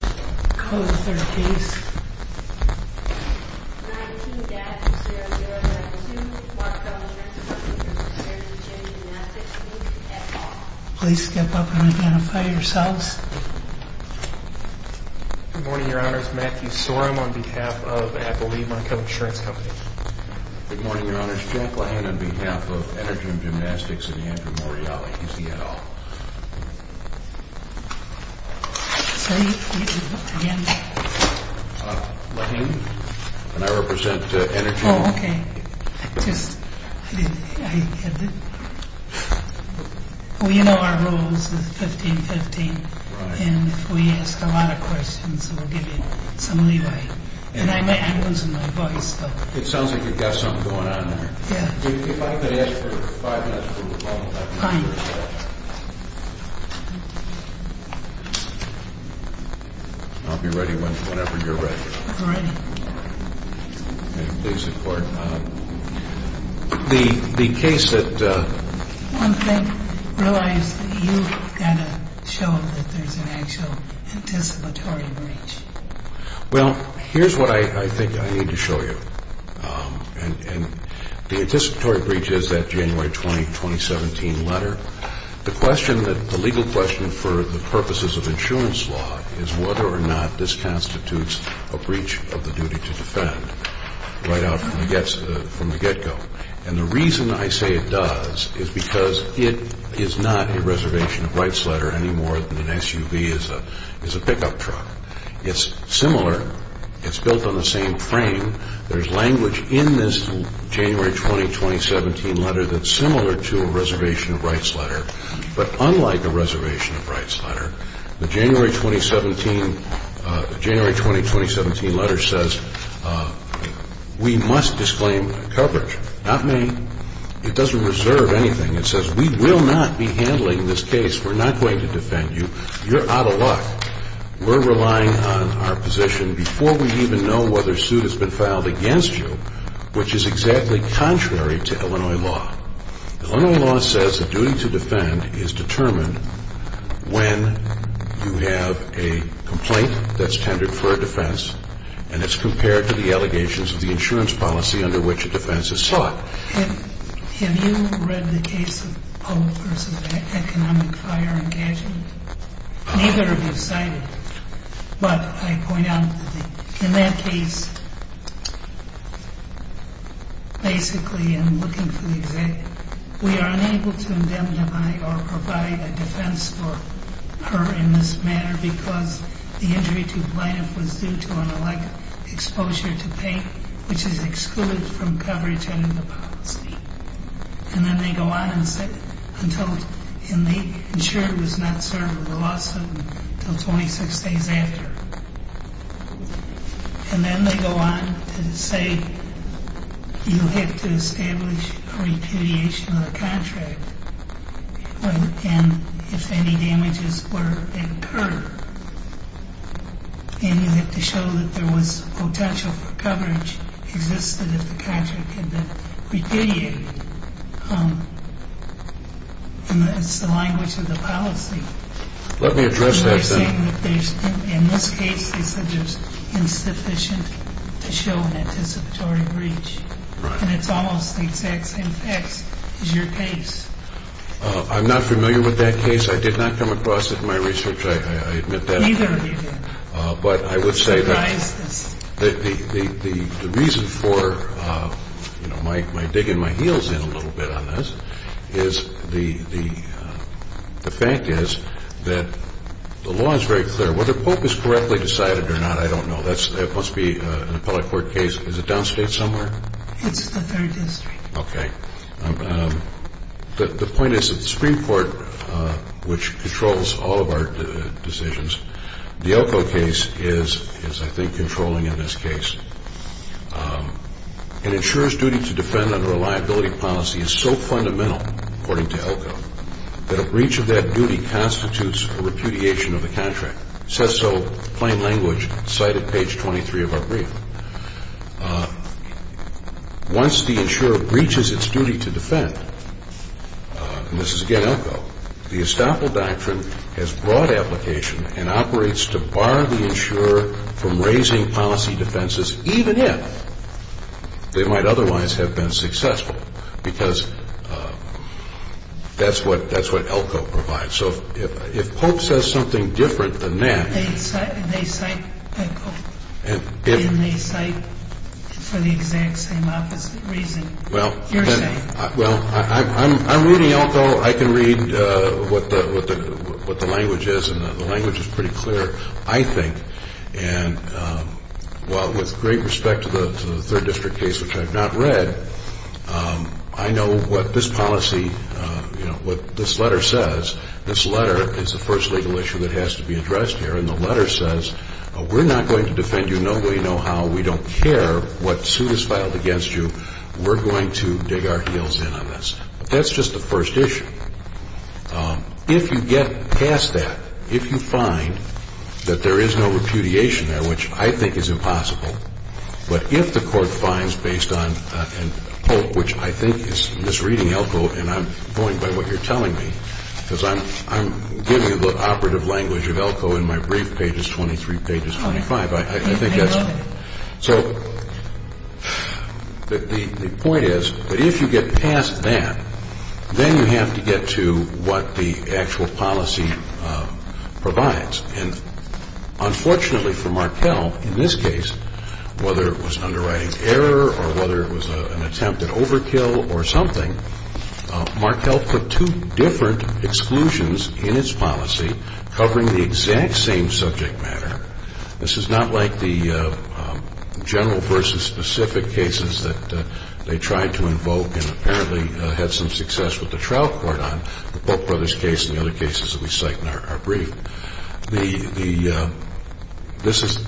Code 13 19-0092 Markkel Insurance Comp. v. Energym Gymnastics Please step up and identify yourselves. Good morning, Your Honors. Matthew Sorum on behalf of Appalachian Markkel Insurance Comp. Good morning, Your Honors. Jack Lehan on behalf of Energym Gymnastics and Andrew Morreale. Is he at all? Say it again. Lehan, and I represent Energym. Oh, okay. We know our rules, 15-15. Right. And if we ask a lot of questions, we'll give you some leeway. And I'm losing my voice. It sounds like you've got something going on there. Yeah. If I could ask for five minutes from the bottom. Fine. I'll be ready whenever you're ready. I'm ready. Okay, please report. The case that... One thing, realize that you've got to show that there's an actual anticipatory breach. Well, here's what I think I need to show you. And the anticipatory breach is that January 20, 2017 letter. The legal question for the purposes of insurance law is whether or not this constitutes a breach of the duty to defend right out from the get-go. And the reason I say it does is because it is not a reservation of rights letter any more than an SUV is a pickup truck. It's similar. It's built on the same frame. There's language in this January 20, 2017 letter that's similar to a reservation of rights letter. But unlike a reservation of rights letter, the January 20, 2017 letter says we must disclaim coverage. Not me. It doesn't reserve anything. It says we will not be handling this case. We're not going to defend you. You're out of luck. We're relying on our position before we even know whether a suit has been filed against you, which is exactly contrary to Illinois law. Illinois law says the duty to defend is determined when you have a complaint that's tendered for a defense and it's compared to the allegations of the insurance policy under which a defense is sought. Have you read the case of Poe v. Economic Fire Engagement? Neither of you cited it. But I point out in that case, basically in looking for the executive, we are unable to indemnify or provide a defense for her in this matter because the injury to plaintiff was due to an alleged exposure to paint, which is excluded from coverage under the policy. And then they go on and say, and the insurer was not served with a lawsuit until 26 days after. And then they go on to say you'll have to establish a repudiation of the contract and if any damages were incurred, and you have to show that there was potential for coverage existed if the contract had been repudiated. It's the language of the policy. Let me address that then. In this case, they said there's insufficient to show an anticipatory breach. And it's almost the exact same facts as your case. I'm not familiar with that case. I did not come across it in my research. I admit that. Neither did I. But I would say that the reason for my digging my heels in a little bit on this is the fact is that the law is very clear. Whether Pope is correctly decided or not, I don't know. That must be an appellate court case. Is it downstate somewhere? It's the third district. Okay. The point is that the Supreme Court, which controls all of our decisions, the Elko case is, I think, controlling in this case. An insurer's duty to defend under a liability policy is so fundamental, according to Elko, that a breach of that duty constitutes a repudiation of the contract. It says so plain language, cited page 23 of our brief. Once the insurer breaches its duty to defend, and this is, again, Elko, the estoppel doctrine has broad application and operates to bar the insurer from raising policy defenses, even if they might otherwise have been successful, because that's what Elko provides. So if Pope says something different than that. They cite Elko, and they cite for the exact same opposite reason you're saying. Well, I'm reading Elko. I can read what the language is, and the language is pretty clear, I think. And while with great respect to the third district case, which I've not read, I know what this policy, you know, what this letter says. This letter is the first legal issue that has to be addressed here, and the letter says we're not going to defend you no way, no how. We don't care what suit is filed against you. We're going to dig our heels in on this. That's just the first issue. If you get past that, if you find that there is no repudiation there, which I think is impossible, but if the court finds based on Pope, which I think is misreading Elko, and I'm buoyed by what you're telling me, because I'm giving you the operative language of Elko in my brief, pages 23, pages 25. I think that's. So the point is that if you get past that, then you have to get to what the actual policy provides. And unfortunately for Markell, in this case, whether it was an underwriting error or whether it was an attempt at overkill or something, Markell put two different exclusions in its policy covering the exact same subject matter. This is not like the general versus specific cases that they tried to invoke and apparently had some success with the trial court on, the Pope Brothers case and the other cases that we cite in our brief. This is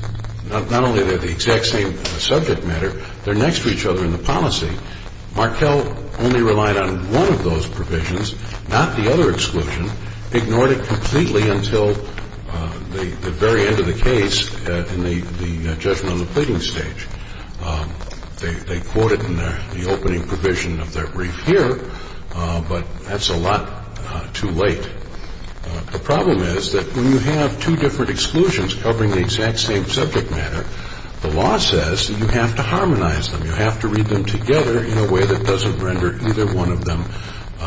not only the exact same subject matter, they're next to each other in the policy. Markell only relied on one of those provisions, not the other exclusion, ignored it completely until the very end of the case in the judgment on the pleading stage. They quote it in the opening provision of their brief here, but that's a lot too late. The problem is that when you have two different exclusions covering the exact same subject matter, the law says that you have to harmonize them, you have to read them together in a way that doesn't render either one of them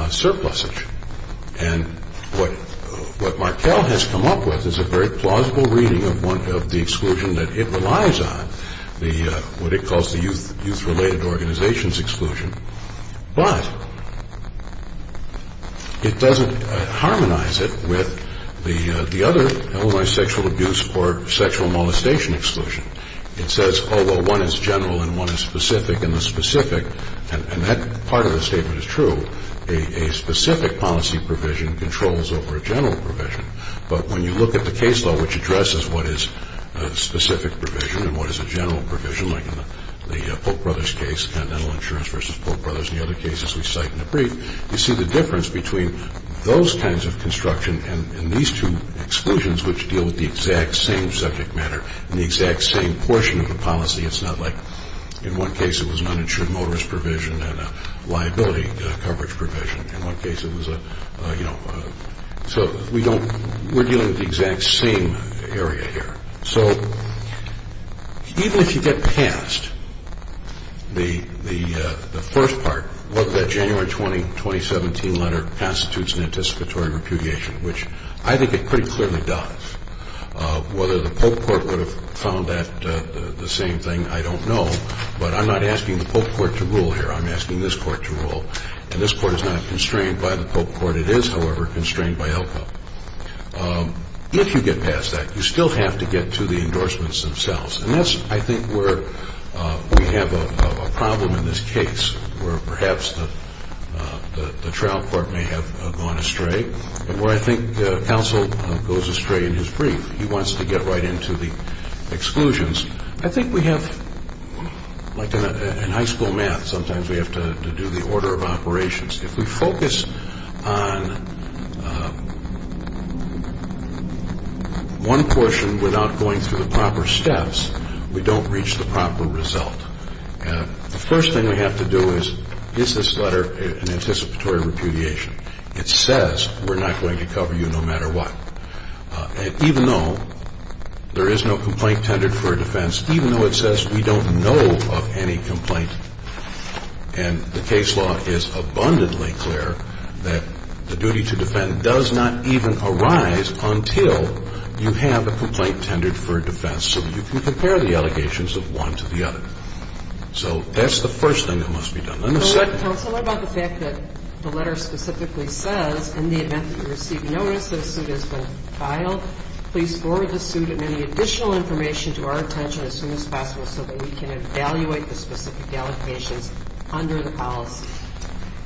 surplusage. And what Markell has come up with is a very plausible reading of the exclusion that it relies on, what it calls the youth-related organizations exclusion. But it doesn't harmonize it with the other, held by sexual abuse or sexual molestation exclusion. It says, oh, well, one is general and one is specific, and the specific, and that part of the statement is true, a specific policy provision controls over a general provision. But when you look at the case law which addresses what is a specific provision and what is a general provision like in the Polk Brothers case, Continental Insurance versus Polk Brothers and the other cases we cite in the brief, you see the difference between those kinds of construction and these two exclusions which deal with the exact same subject matter and the exact same portion of the policy. It's not like in one case it was an uninsured motorist provision and a liability coverage provision. In one case it was a, you know, so we don't, we're dealing with the exact same area here. So even if you get past the first part, whether that January 20, 2017 letter constitutes an anticipatory repudiation, which I think it pretty clearly does. Whether the Polk Court would have found that the same thing, I don't know. But I'm not asking the Polk Court to rule here. I'm asking this Court to rule. And this Court is not constrained by the Polk Court. It is, however, constrained by ELCA. If you get past that, you still have to get to the endorsements themselves. And that's, I think, where we have a problem in this case, where perhaps the trial court may have gone astray and where I think counsel goes astray in his brief. He wants to get right into the exclusions. I think we have, like in high school math, sometimes we have to do the order of operations. If we focus on one portion without going through the proper steps, we don't reach the proper result. The first thing we have to do is, is this letter an anticipatory repudiation? It says we're not going to cover you no matter what. Even though there is no complaint tended for a defense, even though it says we don't know of any complaint and the case law is abundantly clear that the duty to defend does not even arise until you have a complaint tended for a defense so that you can compare the allegations of one to the other. So that's the first thing that must be done. Let me say that. Counsel, what about the fact that the letter specifically says, in the event that you receive notice that a suit has been filed, please forward the suit and any additional information to our attention as soon as possible so that we can evaluate the specific allegations under the policy?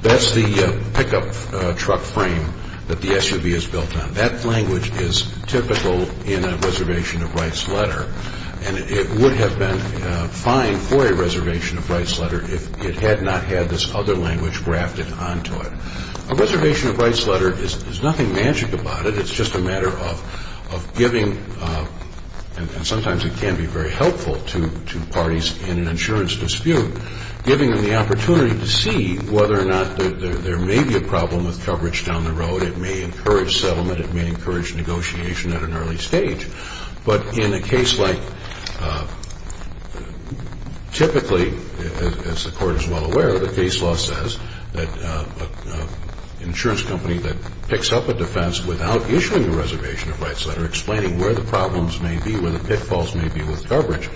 That's the pickup truck frame that the SUV is built on. That language is typical in a reservation of rights letter, and it would have been fine for a reservation of rights letter if it had not had this other language grafted onto it. A reservation of rights letter, there's nothing magic about it. It's just a matter of giving, and sometimes it can be very helpful to parties in an insurance dispute, giving them the opportunity to see whether or not there may be a problem with coverage down the road. It may encourage settlement. It may encourage negotiation at an early stage. But in a case like typically, as the court is well aware, the case law says that an insurance company that picks up a defense without issuing a reservation of rights letter explaining where the problems may be, where the pitfalls may be with coverage,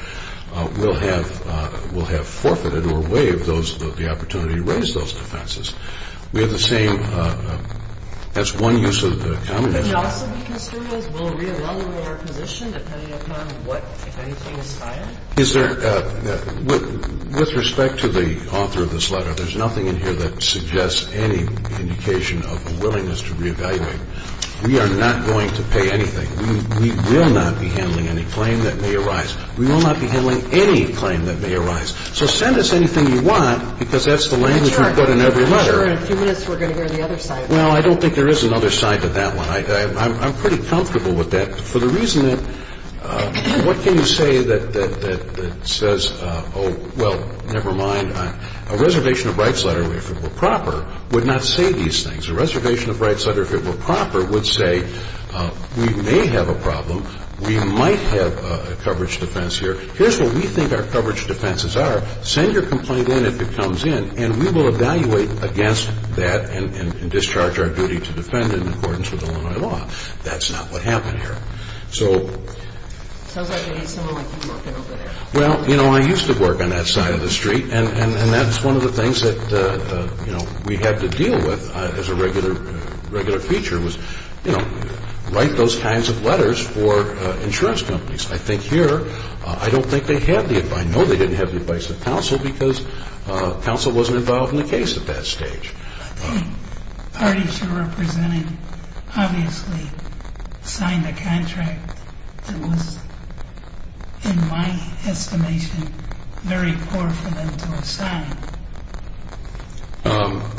will have forfeited or waived the opportunity to raise those defenses. We have the same, that's one use of the communication. Can we also be construed as we'll reevaluate our position depending upon what, if anything, is filed? With respect to the author of this letter, there's nothing in here that suggests any indication of a willingness to reevaluate. We are not going to pay anything. We will not be handling any claim that may arise. We will not be handling any claim that may arise. So send us anything you want because that's the language we put in every letter. I'm sure in a few minutes we're going to hear the other side. Well, I don't think there is another side to that one. I'm pretty comfortable with that. For the reason that what can you say that says, oh, well, never mind. A reservation of rights letter, if it were proper, would not say these things. A reservation of rights letter, if it were proper, would say we may have a problem. We might have a coverage defense here. Here's what we think our coverage defenses are. Send your complaint in if it comes in and we will evaluate against that and discharge our duty to defend in accordance with Illinois law. That's not what happened here. So. Sounds like you need someone like you working over there. Well, you know, I used to work on that side of the street, and that's one of the things that, you know, we had to deal with as a regular feature was, you know, write those kinds of letters for insurance companies. I think here I don't think they had the advice. I know they didn't have the advice of counsel because counsel wasn't involved in the case at that stage. The parties you represented obviously signed a contract that was, in my estimation, very poor for them to assign.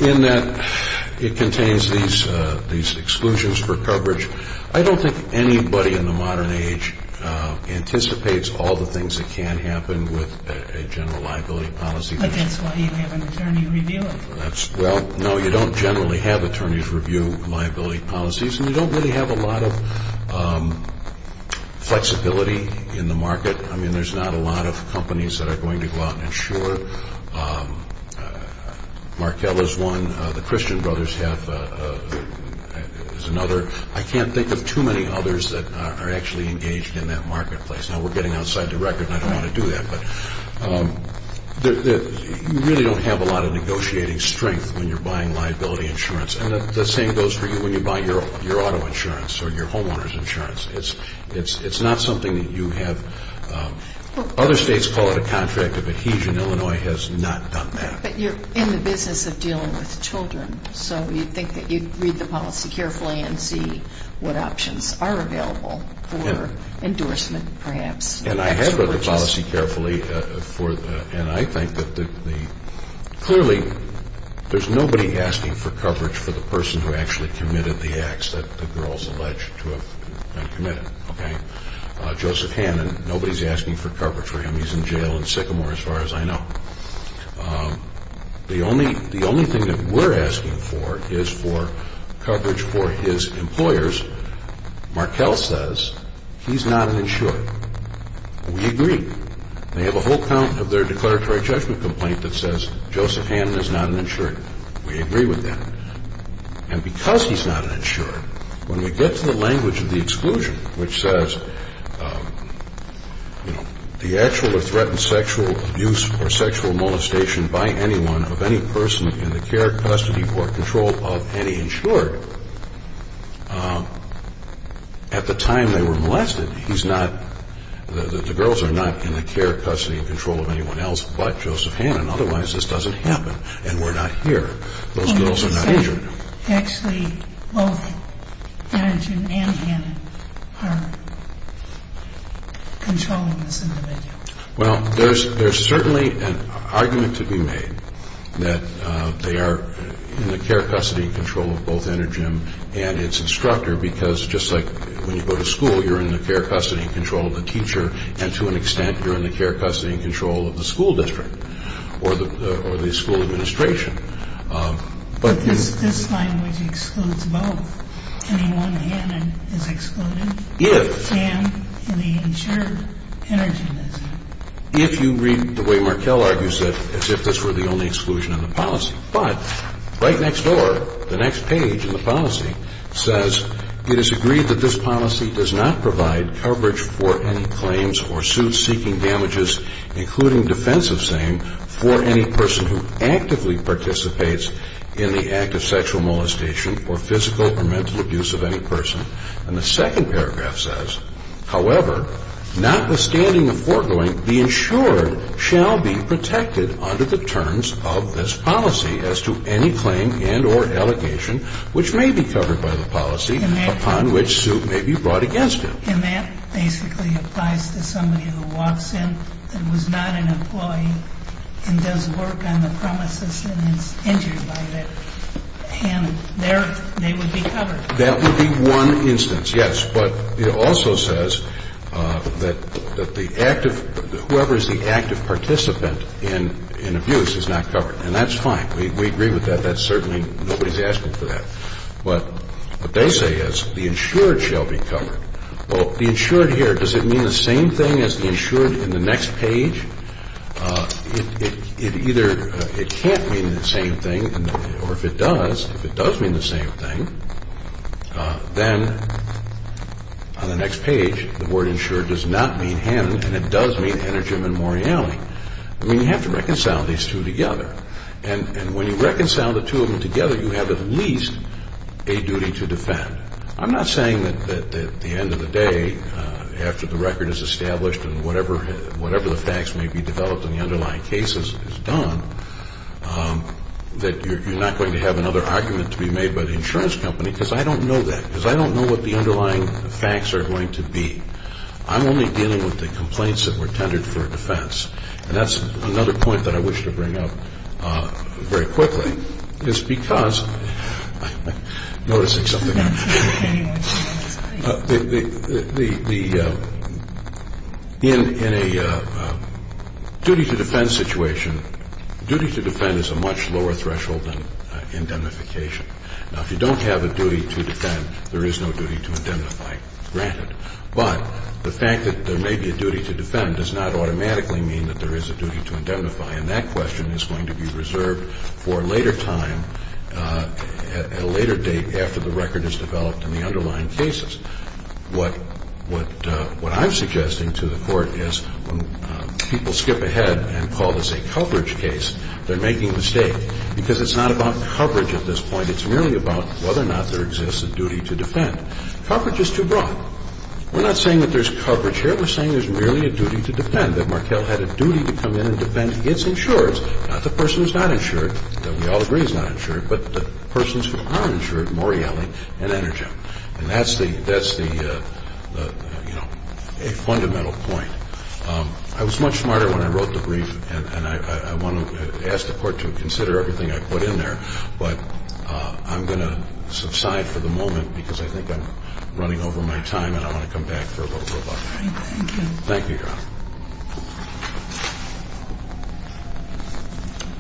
In that it contains these exclusions for coverage. I don't think anybody in the modern age anticipates all the things that can happen with a general liability policy. But that's why you have an attorney review it. Well, no, you don't generally have attorneys review liability policies, and you don't really have a lot of flexibility in the market. I mean, there's not a lot of companies that are going to go out and insure. Markell is one. The Christian Brothers is another. I can't think of too many others that are actually engaged in that marketplace. Now, we're getting outside the record, and I don't want to do that, but you really don't have a lot of negotiating strength when you're buying liability insurance. And the same goes for you when you buy your auto insurance or your homeowner's insurance. It's not something that you have. Other states call it a contract of adhesion. Illinois has not done that. But you're in the business of dealing with children, so you'd think that you'd read the policy carefully and see what options are available for endorsement perhaps. And I have read the policy carefully, and I think that clearly there's nobody asking for coverage for the person who actually committed the acts that the girls allege to have committed. Joseph Hannon, nobody's asking for coverage for him. He's in jail in Sycamore, as far as I know. The only thing that we're asking for is for coverage for his employers. Markell says he's not an insured. We agree. They have a whole count of their declaratory judgment complaint that says Joseph Hannon is not an insured. We agree with that. And because he's not an insured, when we get to the language of the exclusion, which says the actual or threatened sexual abuse or sexual molestation by anyone of any person in the care, custody, or control of any insured at the time they were molested, he's not, the girls are not in the care, custody, and control of anyone else but Joseph Hannon. Otherwise, this doesn't happen, and we're not here. Those girls are not injured. Well, you should say actually both Hannon and Hannon are controlling this individual. Well, there's certainly an argument to be made that they are in the care, custody, and control of both Energem and its instructor because just like when you go to school, you're in the care, custody, and control of the teacher, and to an extent, you're in the care, custody, and control of the school district or the school administration. But this language excludes both. Anyone Hannon is excluded? If. And the insured Energem is? If you read the way Markell argues it as if this were the only exclusion in the policy. But right next door, the next page in the policy says, it is agreed that this policy does not provide coverage for any claims or suits seeking damages, including defense of same, for any person who actively participates in the act of sexual molestation or physical or mental abuse of any person. And the second paragraph says, however, notwithstanding the foregoing, the insured shall be protected under the terms of this policy as to any claim and or allegation which may be covered by the policy upon which suit may be brought against him. And that basically applies to somebody who walks in and was not an employee and does work on the premises and is injured by Hannon. And they would be covered. That would be one instance, yes. But it also says that the active, whoever is the active participant in abuse is not covered. And that's fine. We agree with that. That's certainly, nobody's asking for that. But what they say is the insured shall be covered. Well, the insured here, does it mean the same thing as the insured in the next page? It either, it can't mean the same thing. Or if it does, if it does mean the same thing, then on the next page the word insured does not mean Hannon, and it does mean Energem and Morreale. I mean, you have to reconcile these two together. And when you reconcile the two of them together, you have at least a duty to defend. I'm not saying that at the end of the day, after the record is established and whatever the facts may be developed and the underlying case is done, that you're not going to have another argument to be made by the insurance company, because I don't know that, because I don't know what the underlying facts are going to be. I'm only dealing with the complaints that were tendered for defense. And that's another point that I wish to bring up very quickly, is because in a duty to defend situation, duty to defend is a much lower threshold than indemnification. Now, if you don't have a duty to defend, there is no duty to indemnify, granted. But the fact that there may be a duty to defend does not automatically mean that there is a duty to indemnify, and that question is going to be reserved for a later time, at a later date after the record is developed and the underlying cases. What I'm suggesting to the Court is when people skip ahead and call this a coverage case, they're making a mistake, because it's not about coverage at this point. It's merely about whether or not there exists a duty to defend. Coverage is too broad. We're not saying that there's coverage here. We're saying there's merely a duty to defend, that Markell had a duty to come in and defend against insurers, not the person who's not insured, though we all agree he's not insured, but the persons who are insured, Morreale and Energem. And that's the, you know, a fundamental point. I was much smarter when I wrote the brief, and I want to ask the Court to consider everything I put in there. But I'm going to subside for the moment, because I think I'm running over my time, and I want to come back for a little bit longer. Thank you, Your Honor.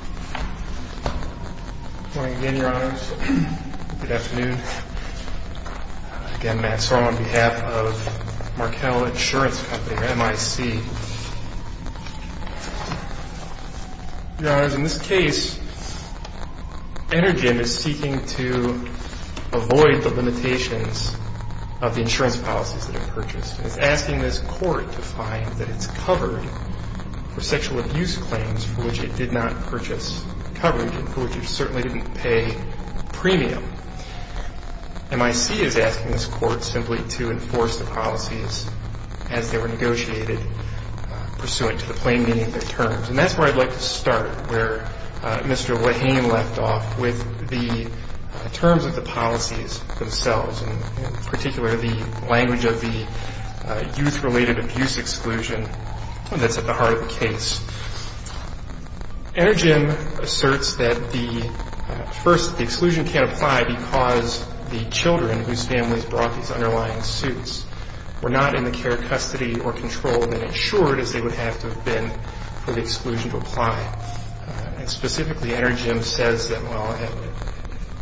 Good morning again, Your Honors. Good afternoon. Again, Matt Sorum on behalf of Markell Insurance Company, or MIC. Your Honors, in this case, Energem is seeking to avoid the limitations of the insurance policies that are purchased. It's asking this Court to find that it's covered for sexual abuse claims for which it did not purchase coverage and for which it certainly didn't pay premium. MIC is asking this Court simply to enforce the policies as they were negotiated, pursuant to the plain meaning of their terms. And that's where I'd like to start, where Mr. Lahane left off, with the terms of the policies themselves, and in particular, the language of the youth-related abuse exclusion that's at the heart of the case. Energem asserts that, first, the exclusion can't apply because the children whose families brought these underlying suits were not in the care, custody, or control of an insured, as they would have to have been for the exclusion to apply. And specifically, Energem says that, well,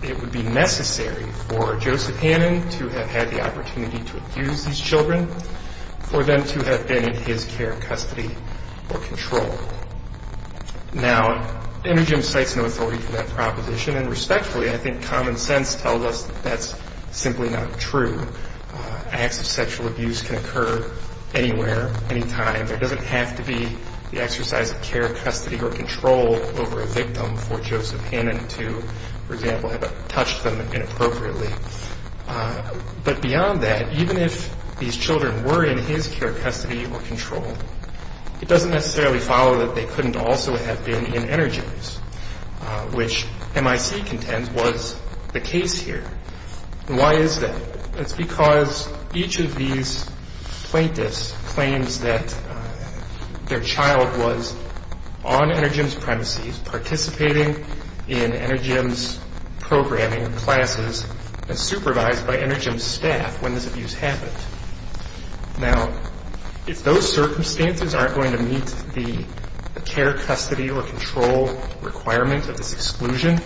it would be necessary for Joseph Hannon to have had the opportunity to abuse these children for them to have been in his care, custody, or control. Now, Energem cites no authority for that proposition, and respectfully, I think common sense tells us that that's simply not true. Acts of sexual abuse can occur anywhere, anytime. There doesn't have to be the exercise of care, custody, or control over a victim for Joseph Hannon to, for example, have touched them inappropriately. But beyond that, even if these children were in his care, custody, or control, it doesn't necessarily follow that they couldn't also have been in Energem's, which MIC contends was the case here. And why is that? It's because each of these plaintiffs claims that their child was on Energem's premises, participating in Energem's programming classes, and supervised by Energem's staff when this abuse happened. Now, if those circumstances aren't going to meet the care, custody, or control requirement of this exclusion,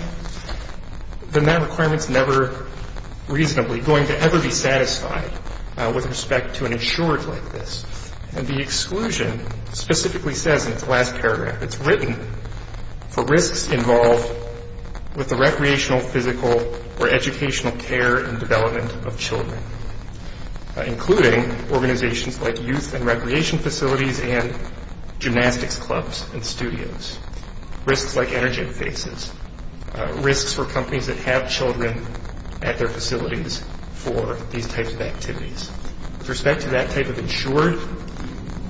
then that requirement's never reasonably going to ever be satisfied with respect to an insured like this. And the exclusion specifically says in its last paragraph, it's written for risks involved with the recreational, physical, or educational care and development of children, including organizations like youth and recreation facilities and gymnastics clubs and studios, risks like Energem faces, risks for companies that have children at their facilities for these types of activities. With respect to that type of insured,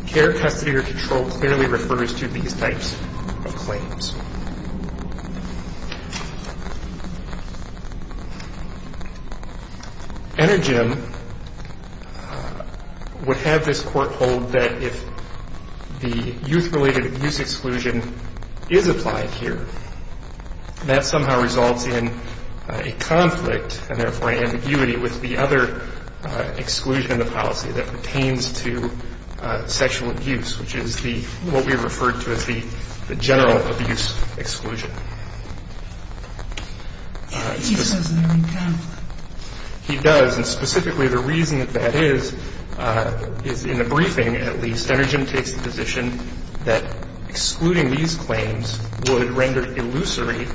care, custody, or control clearly refers to these types of claims. Energem would have this court hold that if the youth-related abuse exclusion is applied here, that somehow results in a conflict and, therefore, an ambiguity with the other exclusion in the policy that pertains to sexual abuse, which is the, what we referred to as the general abuse exclusion. He says they're in conflict. He does, and specifically the reason that that is, is in the briefing, at least, would render illusory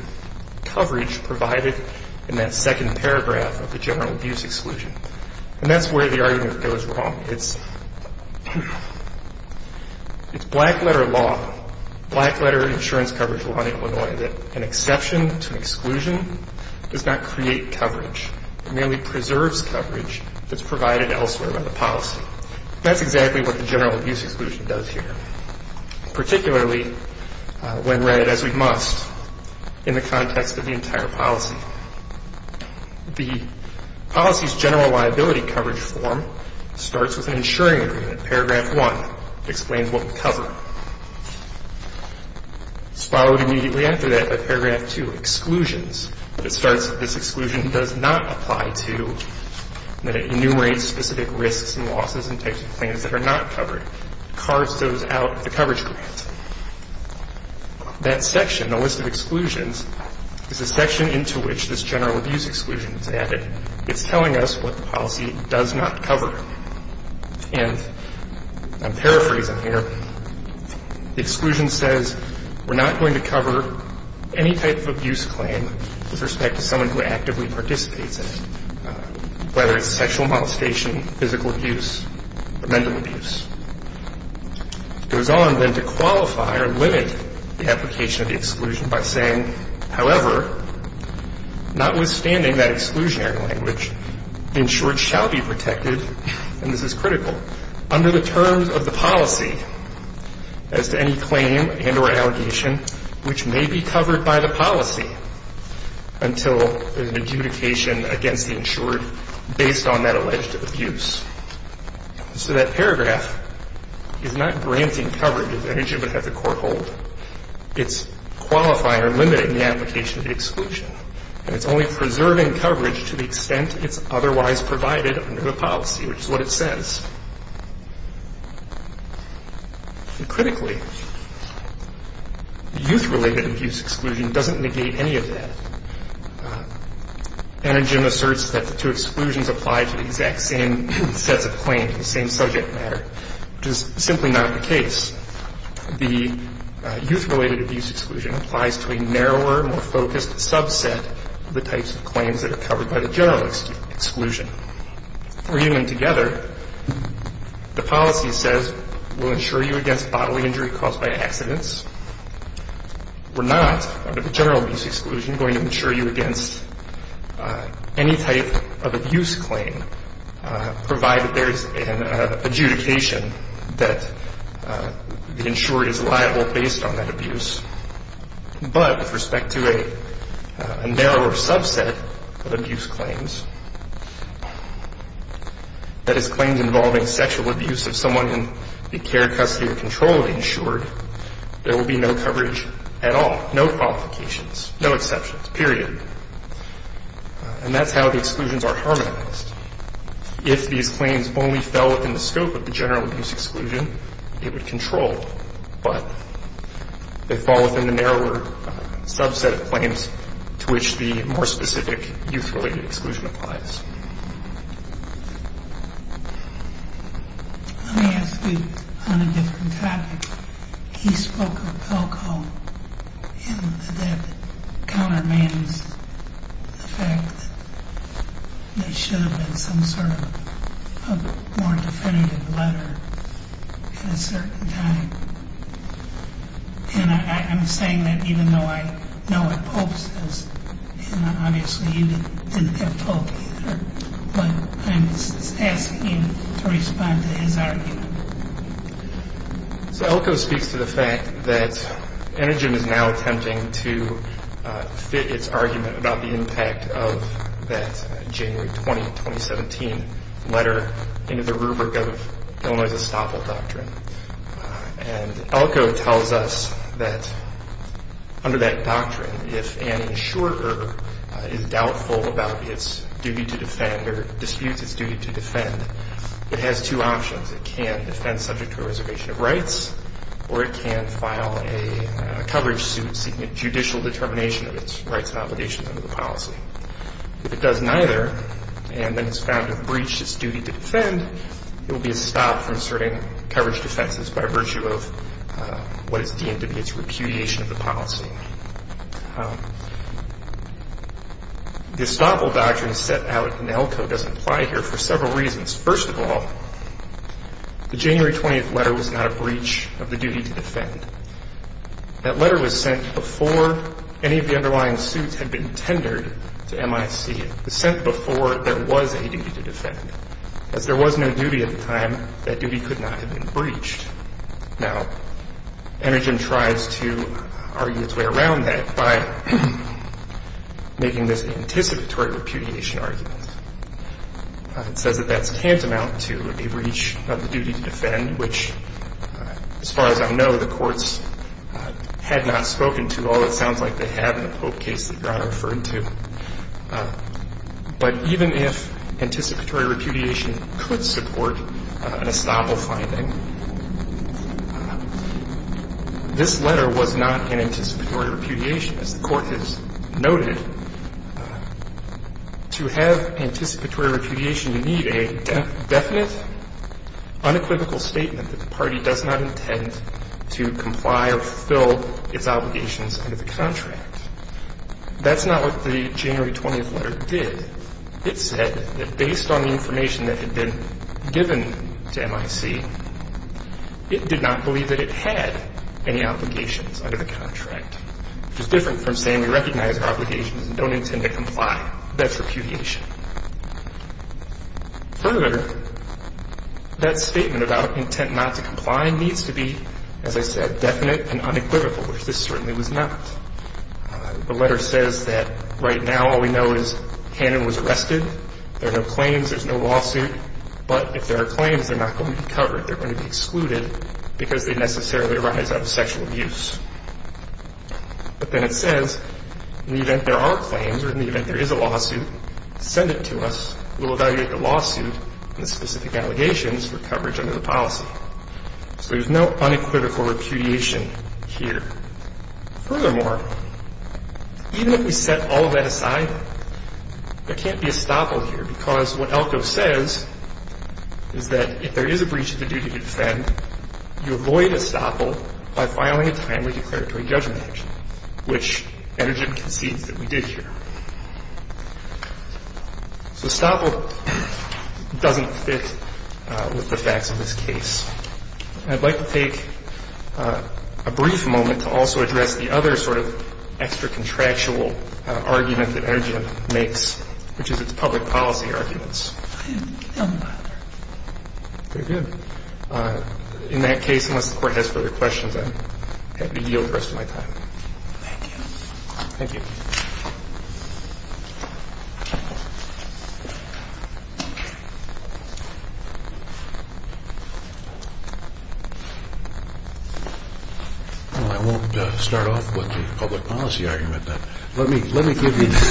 coverage provided in that second paragraph of the general abuse exclusion. And that's where the argument goes wrong. It's black-letter law, black-letter insurance coverage law in Illinois, that an exception to an exclusion does not create coverage. It merely preserves coverage that's provided elsewhere in the policy. That's exactly what the general abuse exclusion does here, particularly when read as we must in the context of the entire policy. The policy's general liability coverage form starts with an insuring agreement. Paragraph 1 explains what we cover. SPA would immediately enter that by paragraph 2, exclusions. It starts that this exclusion does not apply to, that it enumerates specific risks and losses and types of claims that are not covered. It carves those out of the coverage grant. That section, the list of exclusions, is the section into which this general abuse exclusion is added. It's telling us what the policy does not cover. And I'm paraphrasing here. The exclusion says we're not going to cover any type of abuse claim with respect to someone who actively participates in it, whether it's sexual molestation, physical abuse, or mental abuse. It goes on then to qualify or limit the application of the exclusion by saying, however, notwithstanding that exclusionary language, the insured shall be protected, and this is critical, under the terms of the policy as to any claim and or allegation which may be covered by the policy until an adjudication against the insured based on that alleged abuse. So that paragraph is not granting coverage. It's qualifying or limiting the application of the exclusion, and it's only preserving coverage to the extent it's otherwise provided under the policy, which is what it says. Critically, the youth-related abuse exclusion doesn't negate any of that. Anagin asserts that the two exclusions apply to the exact same sets of claims, the same subject matter, which is simply not the case. The youth-related abuse exclusion applies to a narrower, more focused subset of the types of claims that are covered by the general exclusion. For human together, the policy says we'll insure you against bodily injury caused by accidents. We're not, under the general abuse exclusion, going to insure you against any type of abuse claim, provided there is an adjudication that the insured is liable based on that abuse. But with respect to a narrower subset of abuse claims, that is claims involving sexual abuse of someone in the care, custody, or control of the insured, there will be no coverage at all, no qualifications, no exceptions, period. And that's how the exclusions are harmonized. If these claims only fell within the scope of the general abuse exclusion, it would control. But they fall within the narrower subset of claims to which the more specific youth-related exclusion applies. Let me ask you on a different topic. He spoke of alcohol, and that countermanaged the fact that there should have been some sort of more definitive letter at a certain time. And I'm saying that even though I know what Pope says, and obviously you didn't have Pope either, but I'm asking you to respond to his argument. So Elko speaks to the fact that Energem is now attempting to fit its argument about the impact of that January 20, 2017, letter into the rubric of Illinois' Estoppel Doctrine. And Elko tells us that under that doctrine, if an insurer is doubtful about its duty to defend or disputes its duty to defend, it has two options. It can defend subject to a reservation of rights, or it can file a coverage suit seeking a judicial determination of its rights and obligations under the policy. If it does neither and then is found to have breached its duty to defend, it will be estopped from asserting coverage defenses by virtue of what is deemed to be its repudiation of the policy. The Estoppel Doctrine set out in Elko doesn't apply here for several reasons. First of all, the January 20 letter was not a breach of the duty to defend. That letter was sent before any of the underlying suits had been tendered to MIC. It was sent before there was a duty to defend. As there was no duty at the time, that duty could not have been breached. Now, Energin tries to argue its way around that by making this anticipatory repudiation argument. It says that that's tantamount to a breach of the duty to defend, which, as far as I know, the courts had not spoken to, although it sounds like they have in the Pope case that Your Honor referred to. But even if anticipatory repudiation could support an Estoppel finding, this letter was not an anticipatory repudiation. As the Court has noted, to have anticipatory repudiation, you need a definite unequivocal statement that the party does not intend to comply or fulfill its obligations under the contract. That's not what the January 20 letter did. It said that based on the information that had been given to MIC, it did not believe that it had any obligations under the contract, which is different from saying we recognize our obligations and don't intend to comply. That's repudiation. Further, that statement about intent not to comply needs to be, as I said, definite and unequivocal, which this certainly was not. The letter says that right now all we know is Hannon was arrested. There are no claims. There's no lawsuit. But if there are claims, they're not going to be covered. They're going to be excluded because they necessarily arise out of sexual abuse. But then it says in the event there are claims or in the event there is a lawsuit, send it to us. We'll evaluate the lawsuit and the specific allegations for coverage under the policy. So there's no unequivocal repudiation here. Furthermore, even if we set all that aside, there can't be a stopple here because what ELCO says is that if there is a breach of the duty to defend, you avoid a stopple by filing a timely declaratory judgment action, which Energem concedes that we did here. So stopple doesn't fit with the facts of this case. I'd like to take a brief moment to also address the other sort of extra contractual argument that Energem makes, which is its public policy arguments. Very good. In that case, unless the Court has further questions, I'm happy to yield the rest of my time. Thank you. Thank you. Well, I won't start off with the public policy argument, but let me give you the...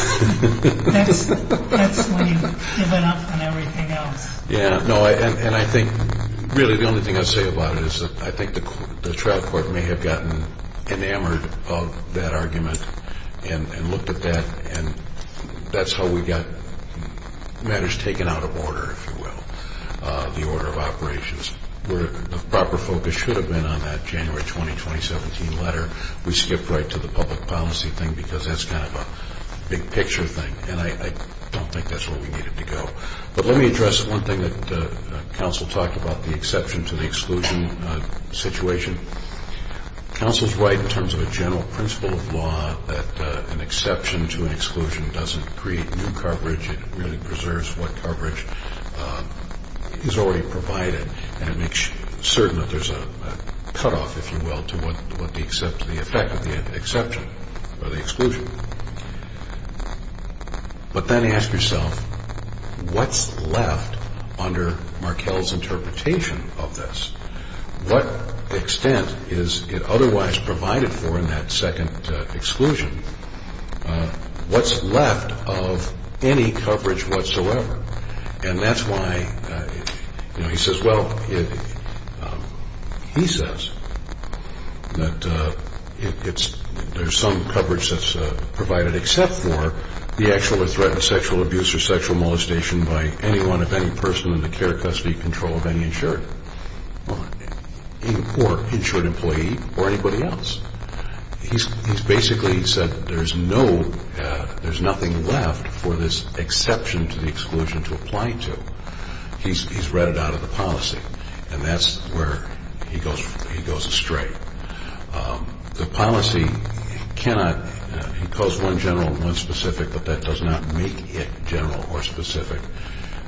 That's when you've given up on everything else. Yeah. No, and I think really the only thing I'd say about it is that I think the trial court may have gotten enamored of that argument and looked at that, and that's how we got matters taken out of order, if you will, the order of operations. Where the proper focus should have been on that January 20, 2017 letter, we skipped right to the public policy thing because that's kind of a big picture thing, and I don't think that's where we needed to go. But let me address one thing that counsel talked about, the exception to the exclusion situation. Counsel's right in terms of a general principle of law that an exception to an exclusion doesn't create new coverage. It really preserves what coverage is already provided, and it makes certain that there's a cutoff, if you will, to what the effect of the exception or the exclusion. But then ask yourself, what's left under Markell's interpretation of this? What extent is it otherwise provided for in that second exclusion? What's left of any coverage whatsoever? And that's why he says, well, he says that there's some coverage that's provided except for the actual threat of sexual abuse or sexual molestation by anyone, and of any person in the care custody control of any insured or insured employee or anybody else. He's basically said there's nothing left for this exception to the exclusion to apply to. He's read it out of the policy, and that's where he goes astray. The policy cannot impose one general and one specific, but that does not make it general or specific.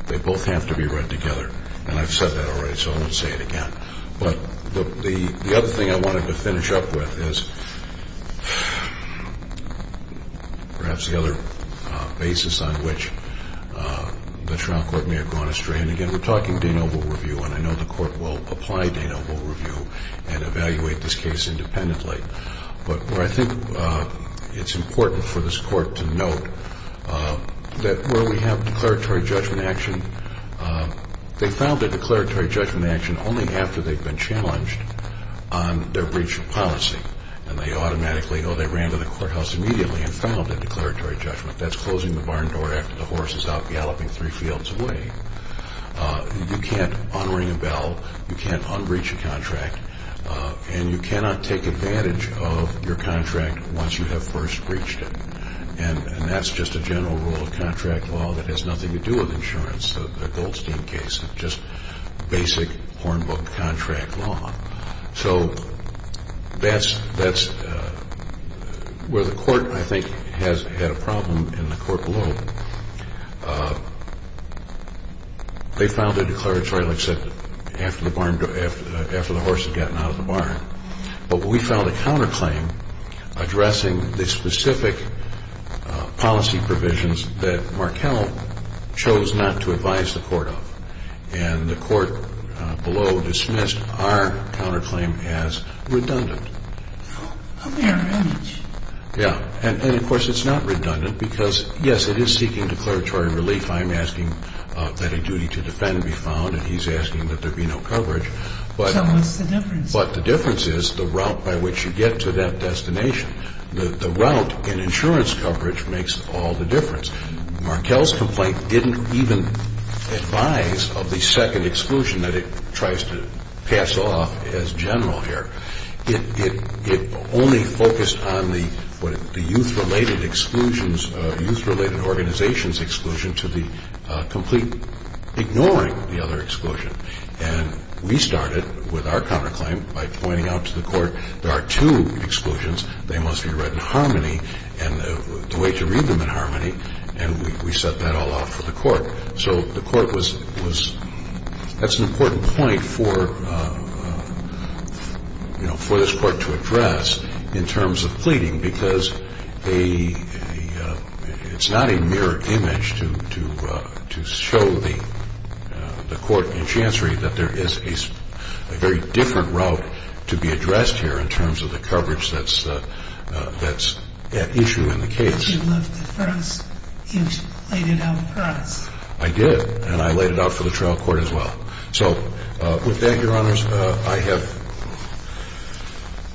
They both have to be read together, and I've said that already, so I won't say it again. But the other thing I wanted to finish up with is perhaps the other basis on which the trial court may have gone astray. And, again, we're talking Danoble review, and I know the court will apply Danoble review and evaluate this case independently. But I think it's important for this court to note that where we have declaratory judgment action, they found a declaratory judgment action only after they've been challenged on their breach of policy. And they automatically go, they ran to the courthouse immediately and filed a declaratory judgment. That's closing the barn door after the horse is out galloping three fields away. You can't un-ring a bell. You can't un-breach a contract. And you cannot take advantage of your contract once you have first breached it. And that's just a general rule of contract law that has nothing to do with insurance, the Goldstein case. It's just basic hornbook contract law. So that's where the court, I think, has had a problem in the court below. They filed a declaratory, like I said, after the horse had gotten out of the barn. But we filed a counterclaim addressing the specific policy provisions that Markell chose not to advise the court of. And the court below dismissed our counterclaim as redundant. A marriage. Yeah. And, of course, it's not redundant because, yes, it is seeking declaratory relief. I'm asking that a duty to defend be found, and he's asking that there be no coverage. So what's the difference? But the difference is the route by which you get to that destination. The route in insurance coverage makes all the difference. Markell's complaint didn't even advise of the second exclusion that it tries to pass off as general here. It only focused on the youth-related exclusions, youth-related organizations exclusion to the complete ignoring the other exclusion. And we started with our counterclaim by pointing out to the court there are two exclusions. They must be read in harmony and the way to read them in harmony, and we set that all off for the court. So the court was – that's an important point for, you know, for this court to address in terms of pleading because it's not a mirror image to show the court and chancery that there is a very different route to be addressed here in terms of the coverage that's at issue in the case. But you left it for us. You laid it out for us. I did, and I laid it out for the trial court as well. So with that, Your Honors, I have –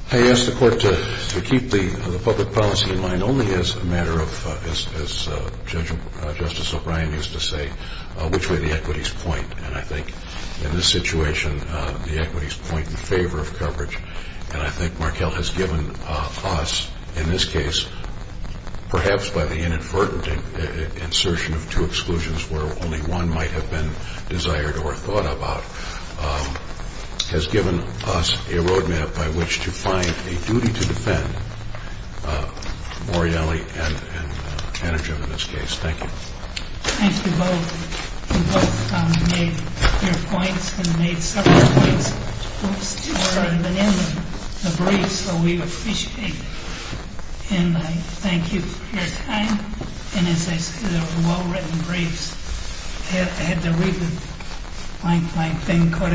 I asked the court to keep the public policy in mind only as a matter of, as Justice O'Brien used to say, which way the equities point. And I think in this situation, the equities point in favor of coverage. And I think Markell has given us in this case, perhaps by the inadvertent insertion of two exclusions where only one might have been desired or thought about, has given us a roadmap by which to find a duty to defend Morreale and Energem in this case. Thank you. Thank you both. You both made your points and made several points that weren't even in the briefs that we officiated. And I thank you for your time. And as I said, they were well-written briefs. I had to read the blank blank thing quite a few times.